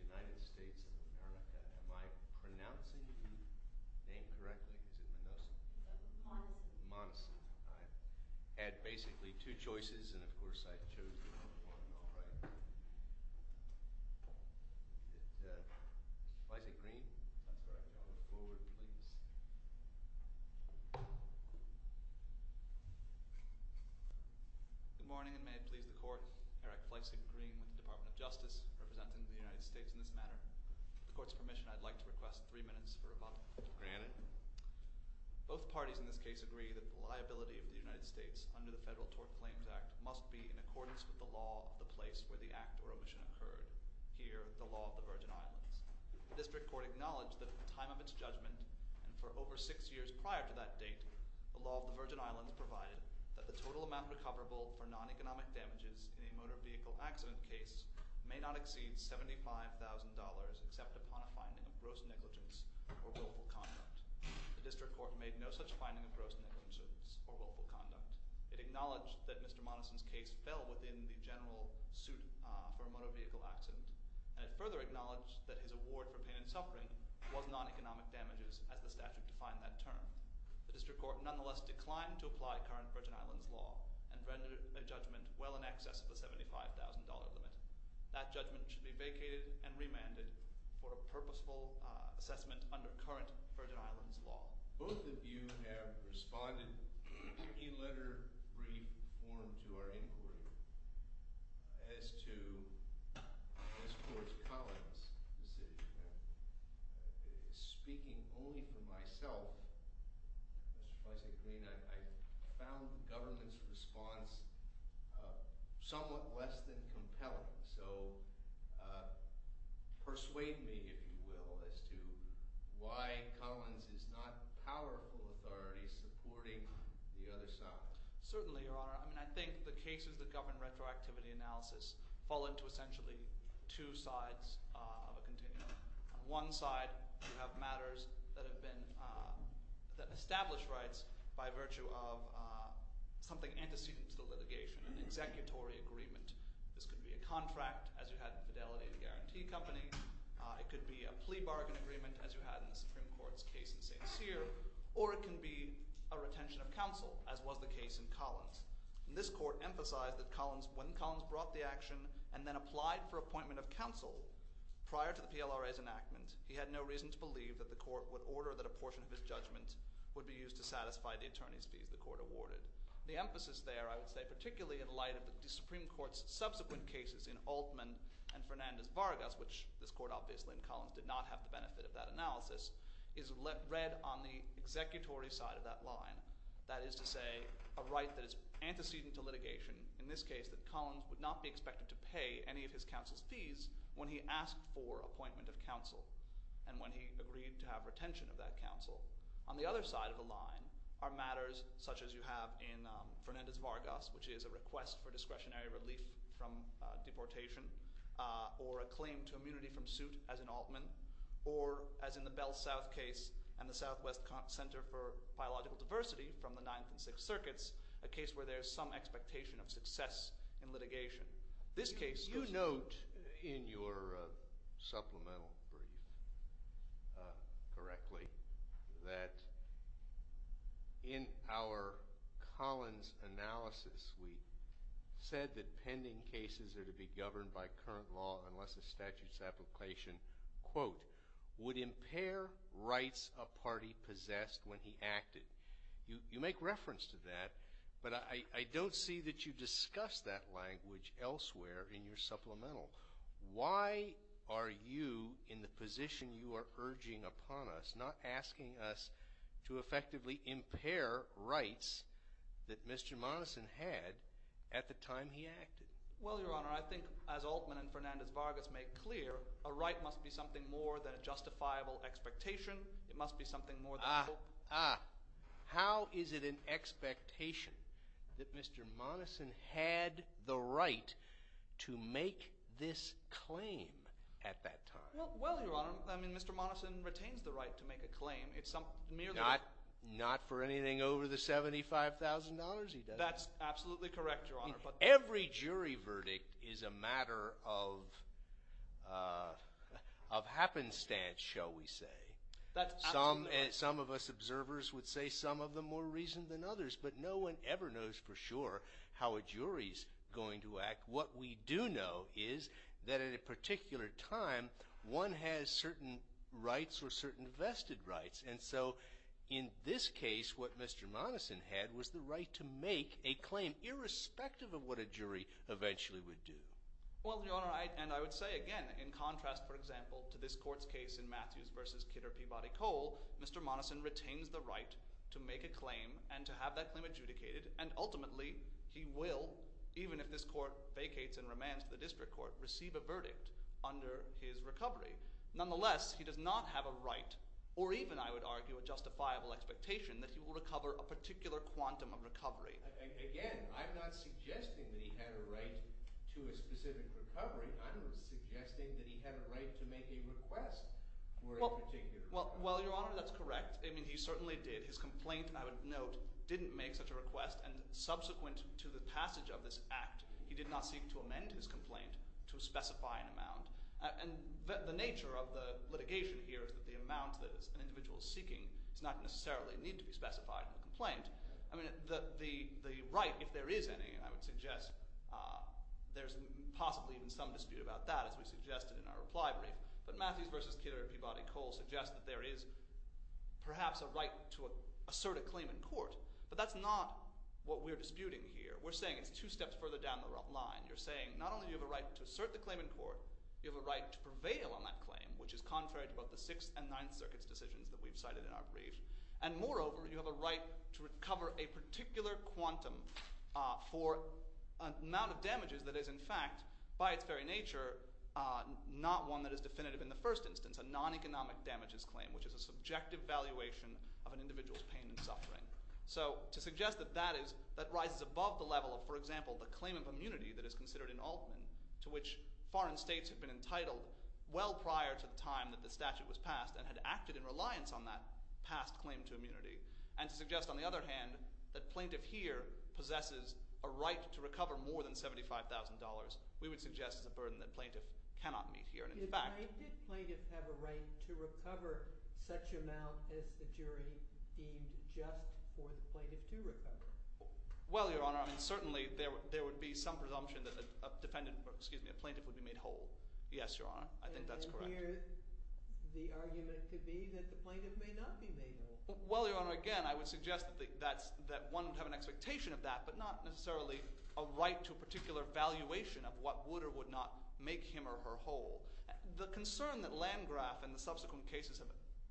This is the United States of America. Am I pronouncing the name correctly? Is it Monoson? Monoson. Monoson. I had basically two choices, and of course I chose the number one, alright. Mr. Fleissig-Green? That's right. Go forward, please. Good morning, and may it please the Court. Eric Fleissig-Green with the Department of Justice, representing the United States in this matter. With the Court's permission, I'd like to request three minutes for rebuttal. Granted. Both parties in this case agree that the liability of the United States under the Federal Tort Claims Act must be in accordance with the law of the place where the act or omission occurred, here, the law of the Virgin Islands. The District Court acknowledged that at the time of its judgment, and for over six years prior to that date, the law of the Virgin Islands provided that the total amount recoverable for non-economic damages in a motor vehicle accident case may not exceed $75,000 except upon a finding of gross negligence or willful conduct. The District Court made no such finding of gross negligence or willful conduct. It acknowledged that Mr. Monason's case fell within the general suit for a motor vehicle accident, and it further acknowledged that his award for pain and suffering was non-economic damages, as the statute defined that term. The District Court nonetheless declined to apply current Virgin Islands law and rendered a judgment well in excess of the $75,000 limit. That judgment should be vacated and remanded for a purposeful assessment under current Virgin Islands law. Both of you have responded in any letter, brief, or form to our inquiry as to this Court's Collins decision. Speaking only for myself, Mr. Feisig-Green, I found the government's response somewhat less than compelling, so persuade me, if you will, as to why Collins is not a powerful authority supporting the other side. Certainly, Your Honor. I mean, I think the cases that govern retroactivity analysis fall into essentially two sides of a continuum. On one side, you have matters that have been – that establish rights by virtue of something antecedent to the litigation, an executory agreement. This could be a contract, as you had in Fidelity and Guarantee Company. It could be a plea bargain agreement, as you had in the Supreme Court's case in St. Cyr. Or it can be a retention of counsel, as was the case in Collins. And this Court emphasized that when Collins brought the action and then applied for appointment of counsel prior to the PLRA's enactment, he had no reason to believe that the Court would order that a portion of his judgment would be used to satisfy the attorney's fees the Court awarded. The emphasis there, I would say, particularly in light of the Supreme Court's subsequent cases in Altman and Fernandez-Vargas, which this Court obviously in Collins did not have the benefit of that analysis, is read on the executory side of that line. That is to say, a right that is antecedent to litigation. In this case, that Collins would not be expected to pay any of his counsel's fees when he asked for appointment of counsel and when he agreed to have retention of that counsel. On the other side of the line are matters such as you have in Fernandez-Vargas, which is a request for discretionary relief from deportation or a claim to immunity from suit as in Altman, or as in the Bell South case and the Southwest Center for Biological Diversity from the Ninth and Sixth Circuits, a case where there is some expectation of success in litigation. You note in your supplemental brief correctly that in our Collins analysis, we said that pending cases are to be governed by current law unless a statute's application, quote, would impair rights a party possessed when he acted. You make reference to that, but I don't see that you discuss that language elsewhere in your supplemental. Why are you in the position you are urging upon us, not asking us to effectively impair rights that Mr. Monison had at the time he acted? Well, Your Honor, I think as Altman and Fernandez-Vargas make clear, a right must be something more than a justifiable expectation. It must be something more than hope. How is it an expectation that Mr. Monison had the right to make this claim at that time? Well, Your Honor, I mean Mr. Monison retains the right to make a claim. Not for anything over the $75,000, he doesn't. That's absolutely correct, Your Honor. Every jury verdict is a matter of happenstance, shall we say. That's absolutely correct. Some of us observers would say some of them more reason than others, but no one ever knows for sure how a jury's going to act. What we do know is that at a particular time, one has certain rights or certain vested rights. And so in this case, what Mr. Monison had was the right to make a claim irrespective of what a jury eventually would do. Well, Your Honor, and I would say again, in contrast, for example, to this court's case in Matthews v. Kidder Peabody Cole, Mr. Monison retains the right to make a claim and to have that claim adjudicated. And ultimately, he will, even if this court vacates and remands to the district court, receive a verdict under his recovery. Nonetheless, he does not have a right or even, I would argue, a justifiable expectation that he will recover a particular quantum of recovery. Again, I'm not suggesting that he had a right to a specific recovery. I'm suggesting that he had a right to make a request for a particular – Well, Your Honor, that's correct. I mean he certainly did. His complaint, I would note, didn't make such a request, and subsequent to the passage of this act, he did not seek to amend his complaint to specify an amount. And the nature of the litigation here is that the amount that an individual is seeking does not necessarily need to be specified in the complaint. I mean the right, if there is any, I would suggest there's possibly even some dispute about that, as we suggested in our reply brief. But Matthews v. Kidder Peabody Cole suggests that there is perhaps a right to assert a claim in court, but that's not what we're disputing here. We're saying it's two steps further down the line. You're saying not only do you have a right to assert the claim in court, you have a right to prevail on that claim, which is contrary to both the Sixth and Ninth Circuit's decisions that we've cited in our brief. And moreover, you have a right to recover a particular quantum for an amount of damages that is, in fact, by its very nature, not one that is definitive in the first instance, a non-economic damages claim, which is a subjective valuation of an individual's pain and suffering. So to suggest that that is – that rises above the level of, for example, the claim of immunity that is considered in Altman, to which foreign states have been entitled well prior to the time that the statute was passed and had acted in reliance on that past claim to immunity. And to suggest, on the other hand, that plaintiff here possesses a right to recover more than $75,000, we would suggest is a burden that plaintiff cannot meet here. Did plaintiff have a right to recover such amount as the jury deemed just for the plaintiff to recover? Well, Your Honor, I mean certainly there would be some presumption that a defendant – excuse me, a plaintiff would be made whole. Yes, Your Honor. I think that's correct. And here the argument could be that the plaintiff may not be made whole. Well, Your Honor, again, I would suggest that one would have an expectation of that, but not necessarily a right to a particular valuation of what would or would not make him or her whole. The concern that Landgraf and the subsequent cases have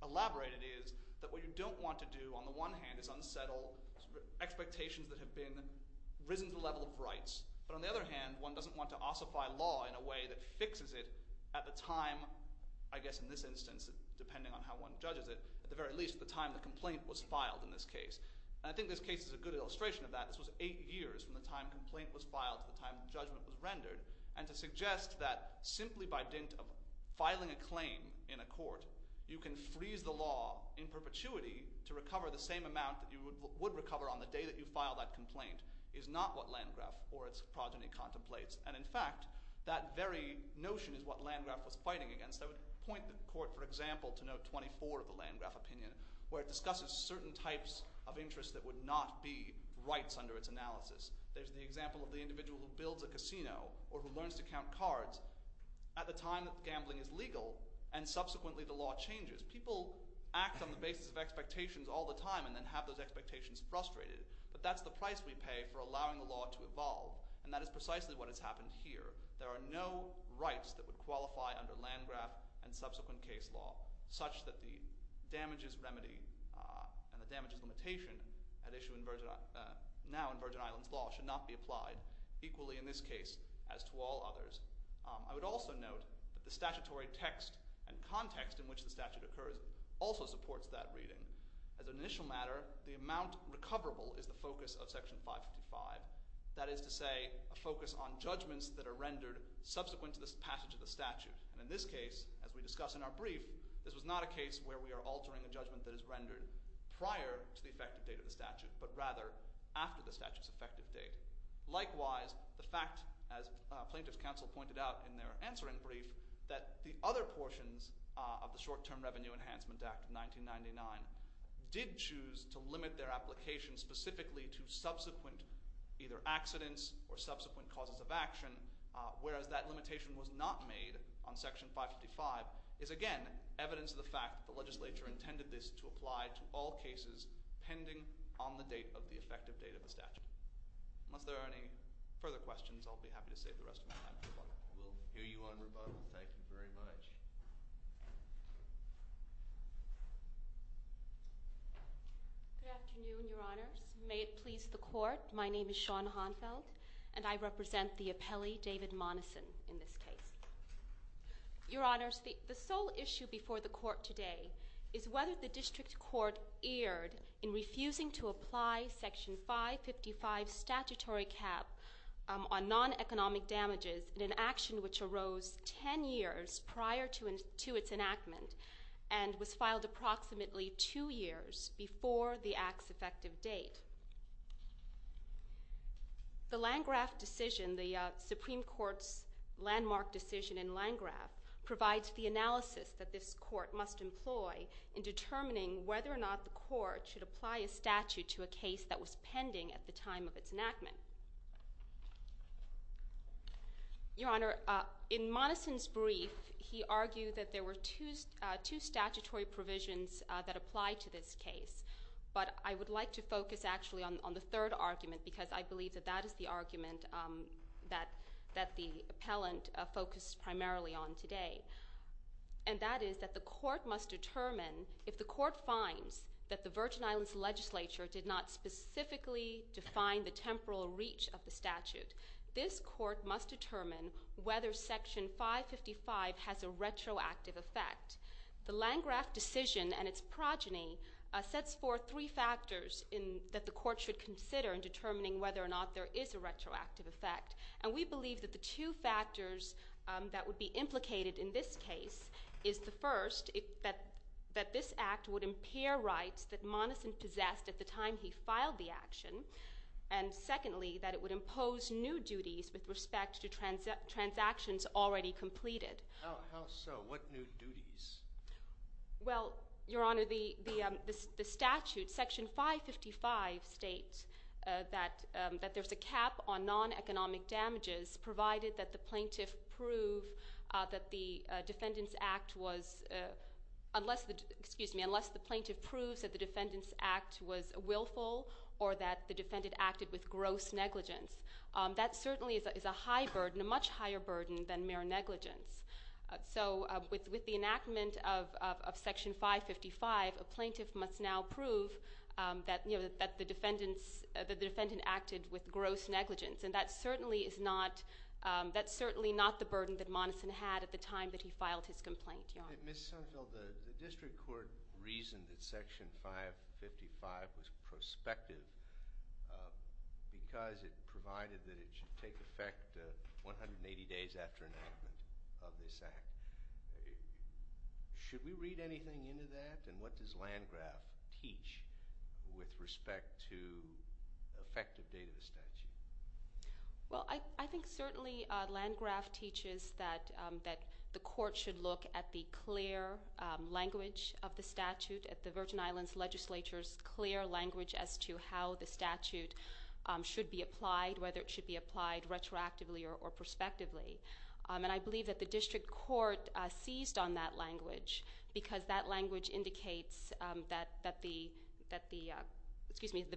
elaborated is that what you don't want to do, on the one hand, is unsettle expectations that have been risen to the level of rights. But on the other hand, one doesn't want to ossify law in a way that fixes it at the time, I guess in this instance, depending on how one judges it, at the very least, the time the complaint was filed in this case. And I think this case is a good illustration of that. This was eight years from the time the complaint was filed to the time the judgment was rendered. And to suggest that simply by dint of filing a claim in a court, you can freeze the law in perpetuity to recover the same amount that you would recover on the day that you filed that complaint is not what Landgraf or its progeny contemplates. And in fact, that very notion is what Landgraf was fighting against. I would point the court, for example, to note 24 of the Landgraf opinion, where it discusses certain types of interests that would not be rights under its analysis. There's the example of the individual who builds a casino or who learns to count cards at the time that gambling is legal and subsequently the law changes. People act on the basis of expectations all the time and then have those expectations frustrated. But that's the price we pay for allowing the law to evolve. And that is precisely what has happened here. There are no rights that would qualify under Landgraf and subsequent case law such that the damages remedy and the damages limitation at issue now in Virgin Islands law should not be applied equally in this case as to all others. I would also note that the statutory text and context in which the statute occurs also supports that reading. As an initial matter, the amount recoverable is the focus of Section 555. That is to say, a focus on judgments that are rendered subsequent to the passage of the statute. And in this case, as we discuss in our brief, this was not a case where we are altering a judgment that is rendered prior to the effective date of the statute, but rather after the statute's effective date. Likewise, the fact, as plaintiffs' counsel pointed out in their answering brief, that the other portions of the Short-Term Revenue Enhancement Act of 1999 did choose to limit their application specifically to subsequent either accidents or subsequent causes of action, whereas that limitation was not made on Section 555, is again evidence of the fact that the legislature intended this to apply to all cases pending on the date of the effective date of the statute. Unless there are any further questions, I'll be happy to save the rest of my time for rebuttal. We'll hear you on rebuttal. Thank you very much. Good afternoon, Your Honors. May it please the Court. My name is Shawn Honfeld, and I represent the appellee, David Monison, in this case. Your Honors, the sole issue before the Court today is whether the district court erred in refusing to apply Section 555 statutory cap on non-economic damages in an action which arose 10 years prior to its enactment and was filed approximately two years before the act's effective date. The Landgraf decision, the Supreme Court's landmark decision in Landgraf, provides the analysis that this Court must employ in determining whether or not the Court should apply a statute to a case that was pending at the time of its enactment. Your Honor, in Monison's brief, he argued that there were two statutory provisions that apply to this case, but I would like to focus actually on the third argument because I believe that that is the argument that the appellant focused primarily on today. And that is that the Court must determine if the Court finds that the Virgin Islands Legislature did not specifically define the temporal reach of the statute. This Court must determine whether Section 555 has a retroactive effect. The Landgraf decision and its progeny sets forth three factors that the Court should consider in determining whether or not there is a retroactive effect. And we believe that the two factors that would be implicated in this case is the first, that this act would impair rights that Monison possessed at the time he filed the action, and secondly, that it would impose new duties with respect to transactions already completed. How so? What new duties? Well, Your Honor, the statute, Section 555, states that there's a cap on non-economic damages provided that the plaintiff proves that the defendant's act was willful or that the defendant acted with gross negligence. That certainly is a much higher burden than mere negligence. So with the enactment of Section 555, a plaintiff must now prove that the defendant acted with gross negligence. And that certainly is not the burden that Monison had at the time that he filed his complaint. Ms. Sunfield, the district court reasoned that Section 555 was prospective because it provided that it should take effect 180 days after enactment of this act. Should we read anything into that? And what does Landgraf teach with respect to effective date of the statute? Well, I think certainly Landgraf teaches that the court should look at the clear language of the statute, at the Virgin Islands Legislature's clear language as to how the statute should be applied, whether it should be applied retroactively or prospectively. And I believe that the district court seized on that language because that language indicates that the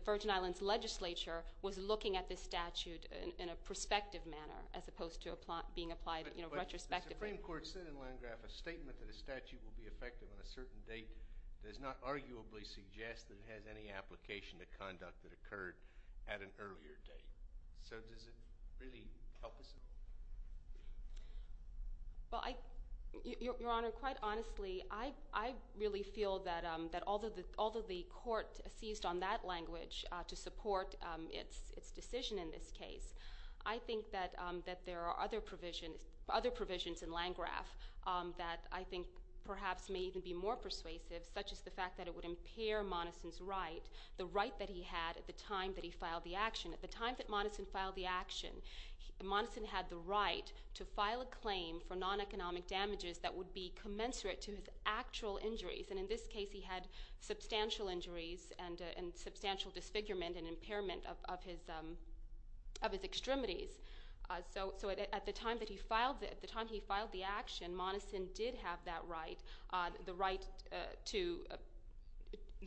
Virgin Islands Legislature was looking at this statute in a prospective manner as opposed to being applied retrospectively. But the Supreme Court said in Landgraf a statement that a statute will be effective on a certain date does not arguably suggest that it has any application to conduct that occurred at an earlier date. So does it really help us? Well, Your Honor, quite honestly, I really feel that although the court seized on that language to support its decision in this case, I think that there are other provisions in Landgraf that I think perhaps may even be more persuasive, such as the fact that it would impair Monison's right, the right that he had at the time that he filed the action. At the time that Monison filed the action, Monison had the right to file a claim for non-economic damages that would be commensurate to his actual injuries. And in this case, he had substantial injuries and substantial disfigurement and impairment of his extremities. So at the time that he filed the action, Monison did have that right, the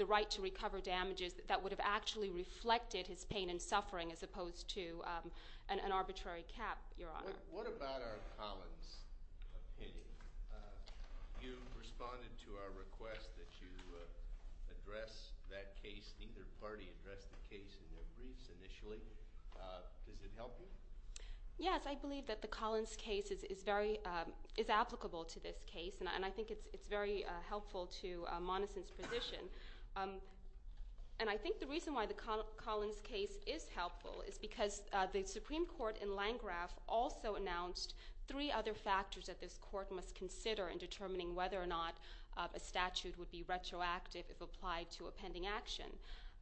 right to recover damages that would have actually reflected his pain and suffering as opposed to an arbitrary cap, Your Honor. What about our Collins opinion? You responded to our request that you address that case. Neither party addressed the case in their briefs initially. Does it help you? Yes, I believe that the Collins case is applicable to this case, and I think it's very helpful to Monison's position. And I think the reason why the Collins case is helpful is because the Supreme Court in Landgraf also announced three other factors that this court must consider in determining whether or not a statute would be retroactive if applied to a pending action.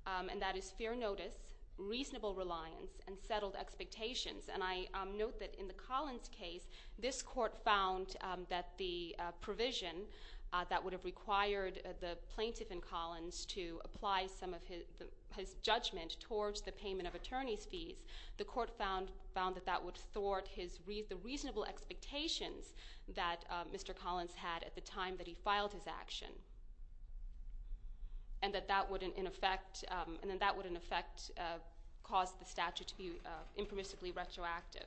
And that is fair notice, reasonable reliance, and settled expectations. And I note that in the Collins case, this court found that the provision that would have required the plaintiff in Collins to apply some of his judgment towards the payment of attorney's fees, the court found that that would thwart the reasonable expectations that Mr. Collins had at the time that he filed his action. And that that would in effect cause the statute to be impermissibly retroactive.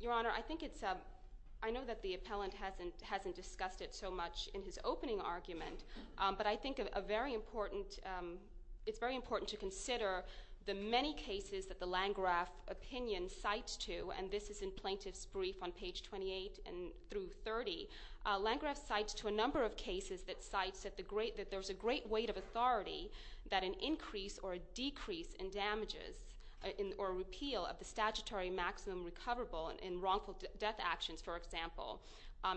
Your Honor, I know that the appellant hasn't discussed it so much in his opening argument, but I think it's very important to consider the many cases that the Landgraf opinion cites to, and this is in plaintiff's brief on page 28 through 30. Landgraf cites to a number of cases that cites that there's a great weight of authority that an increase or a decrease in damages or repeal of the statutory maximum recoverable in wrongful death actions, for example,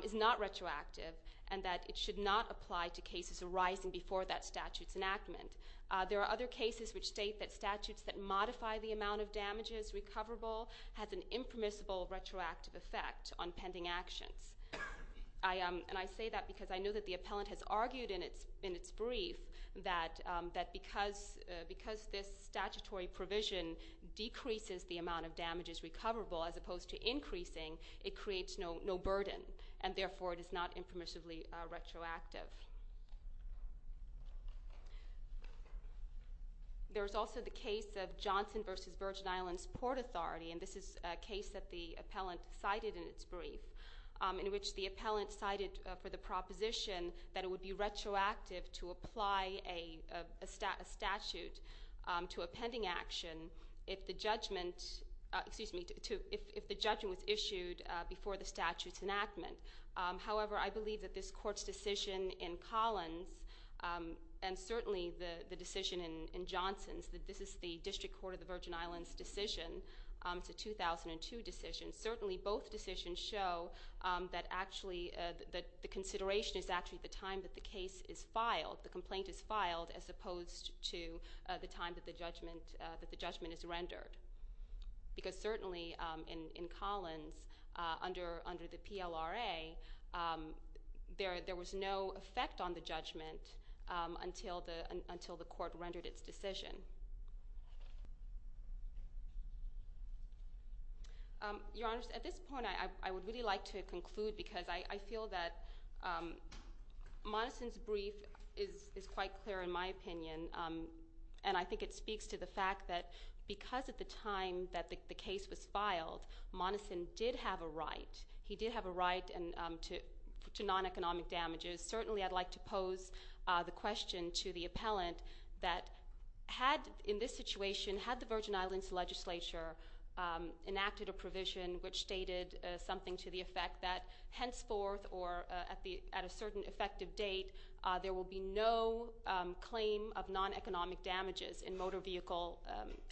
is not retroactive, and that it should not apply to cases arising before that statute's enactment. There are other cases which state that statutes that modify the amount of damages recoverable has an impermissible retroactive effect on pending actions. And I say that because I know that the appellant has argued in its brief that because this statutory provision decreases the amount of damages recoverable as opposed to increasing, it creates no burden, and therefore it is not impermissibly retroactive. There's also the case of Johnson v. Virgin Islands Port Authority, and this is a case that the appellant cited in its brief, in which the appellant cited for the proposition that it would be retroactive to apply a statute to a pending action if the judgment was issued before the statute's enactment. However, I believe that this Court's decision in Collins and certainly the decision in Johnson's, that this is the District Court of the Virgin Islands' decision, it's a 2002 decision, certainly both decisions show that the consideration is actually the time that the case is filed, the complaint is filed, as opposed to the time that the judgment is rendered. Because certainly in Collins, under the PLRA, there was no effect on the judgment until the Court rendered its decision. Your Honor, at this point, I would really like to conclude, because I feel that Monison's brief is quite clear in my opinion, and I think it speaks to the fact that because at the time that the case was filed, Monison did have a right, he did have a right to non-economic damages. Certainly, I'd like to pose the question to the appellant that had, in this situation, had the Virgin Islands Legislature enacted a provision which stated something to the effect that henceforth or at a certain effective date there will be no claim of non-economic damages in motor vehicle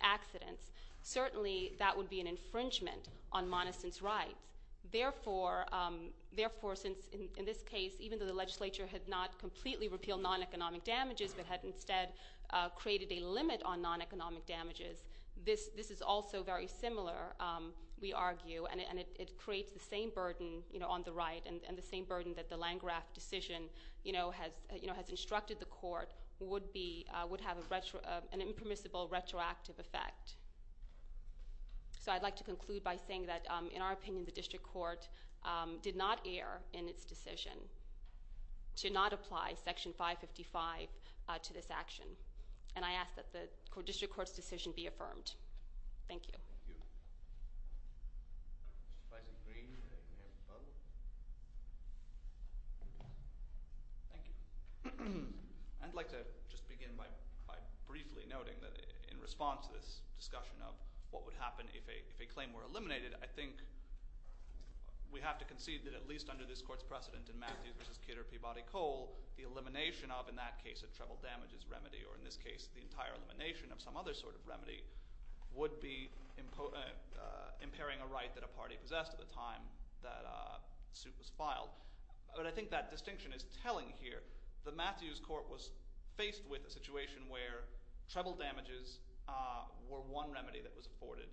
accidents, certainly that would be an infringement on Monison's rights. Therefore, since in this case, even though the legislature had not completely repealed non-economic damages, but had instead created a limit on non-economic damages, this is also very similar, we argue, and it creates the same burden on the right and the same burden that the Landgraf decision has instructed the Court, would have an impermissible retroactive effect. So I'd like to conclude by saying that, in our opinion, the District Court did not err in its decision to not apply Section 555 to this action, and I ask that the District Court's decision be affirmed. Thank you. Thank you. Mr. Vice-Apprentice, do you have a follow-up? Thank you. I'd like to just begin by briefly noting that, in response to this discussion of what would happen if a claim were eliminated, I think we have to concede that, at least under this Court's precedent in Matthews v. Kidder v. Peabody-Cole, the elimination of, in that case, a treble damages remedy, or in this case, the entire elimination of some other sort of remedy, would be impairing a right that a party possessed at the time that the suit was filed. But I think that distinction is telling here. The Matthews Court was faced with a situation where treble damages were one remedy that was afforded,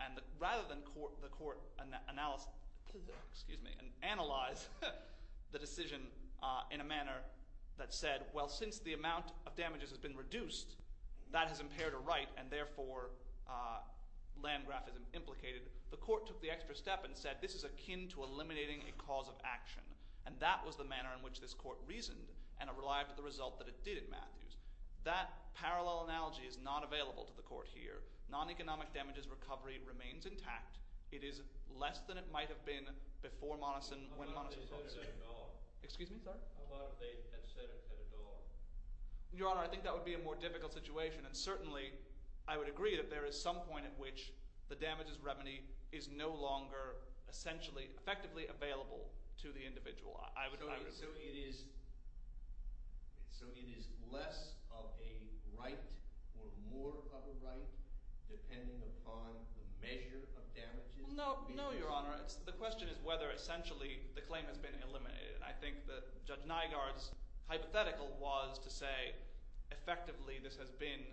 and rather than the Court analyze the decision in a manner that said, well, since the amount of damages has been reduced, that has impaired a right, and therefore land graphism implicated, the Court took the extra step and said this is akin to eliminating a cause of action. And that was the manner in which this Court reasoned and relied to the result that it did in Matthews. That parallel analogy is not available to the Court here. Non-economic damages recovery remains intact. It is less than it might have been before Monison – when Monison – How about if they said it at all? Excuse me? Sorry? How about if they had said it at all? Your Honor, I think that would be a more difficult situation, and certainly I would agree that there is some point at which the damages remedy is no longer essentially effectively available to the individual. I would – So it is less of a right or more of a right depending upon the measure of damages? No, Your Honor. The question is whether essentially the claim has been eliminated. And I think that Judge Nygaard's hypothetical was to say effectively this has been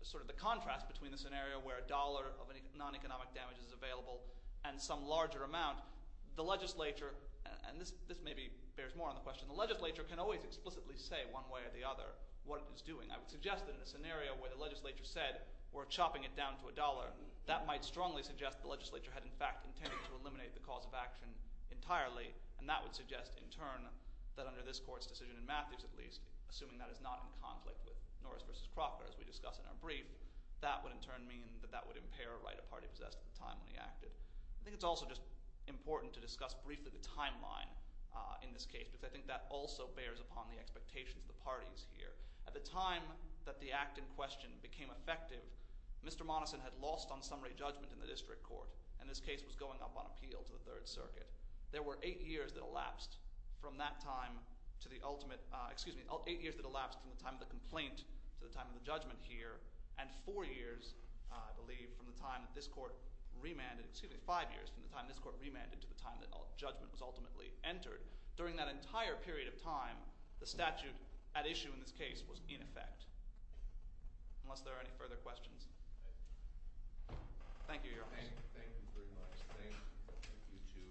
sort of the contrast between the scenario where a dollar of non-economic damage is available and some larger amount. The legislature – and this maybe bears more on the question – the legislature can always explicitly say one way or the other what it is doing. I would suggest that in a scenario where the legislature said we're chopping it down to a dollar, that might strongly suggest the legislature had in fact intended to eliminate the cause of action entirely, and that would suggest in turn that under this court's decision in Matthews at least, assuming that is not in conflict with Norris v. Crocker as we discuss in our brief, that would in turn mean that that would impair a right a party possessed at the time when he acted. I think it's also just important to discuss briefly the timeline in this case because I think that also bears upon the expectations of the parties here. At the time that the act in question became effective, Mr. Monison had lost on summary judgment in the district court, and this case was going up on appeal to the Third Circuit. There were eight years that elapsed from that time to the ultimate – excuse me, eight years that elapsed from the time of the complaint to the time of the judgment here, and four years, I believe, from the time that this court remanded – excuse me, five years from the time this court remanded to the time that judgment was ultimately entered. During that entire period of time, the statute at issue in this case was in effect. Thank you, Your Honor. Thank you very much. Thank you to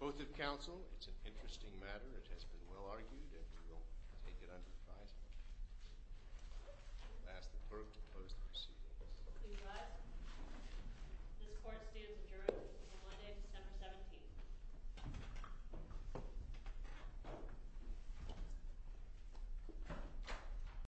both of counsel. It's an interesting matter. It has been well argued, and we will take it under advisement. I will ask the clerk to close the proceedings. Please rise. This court stands adjourned until Monday, December 17th.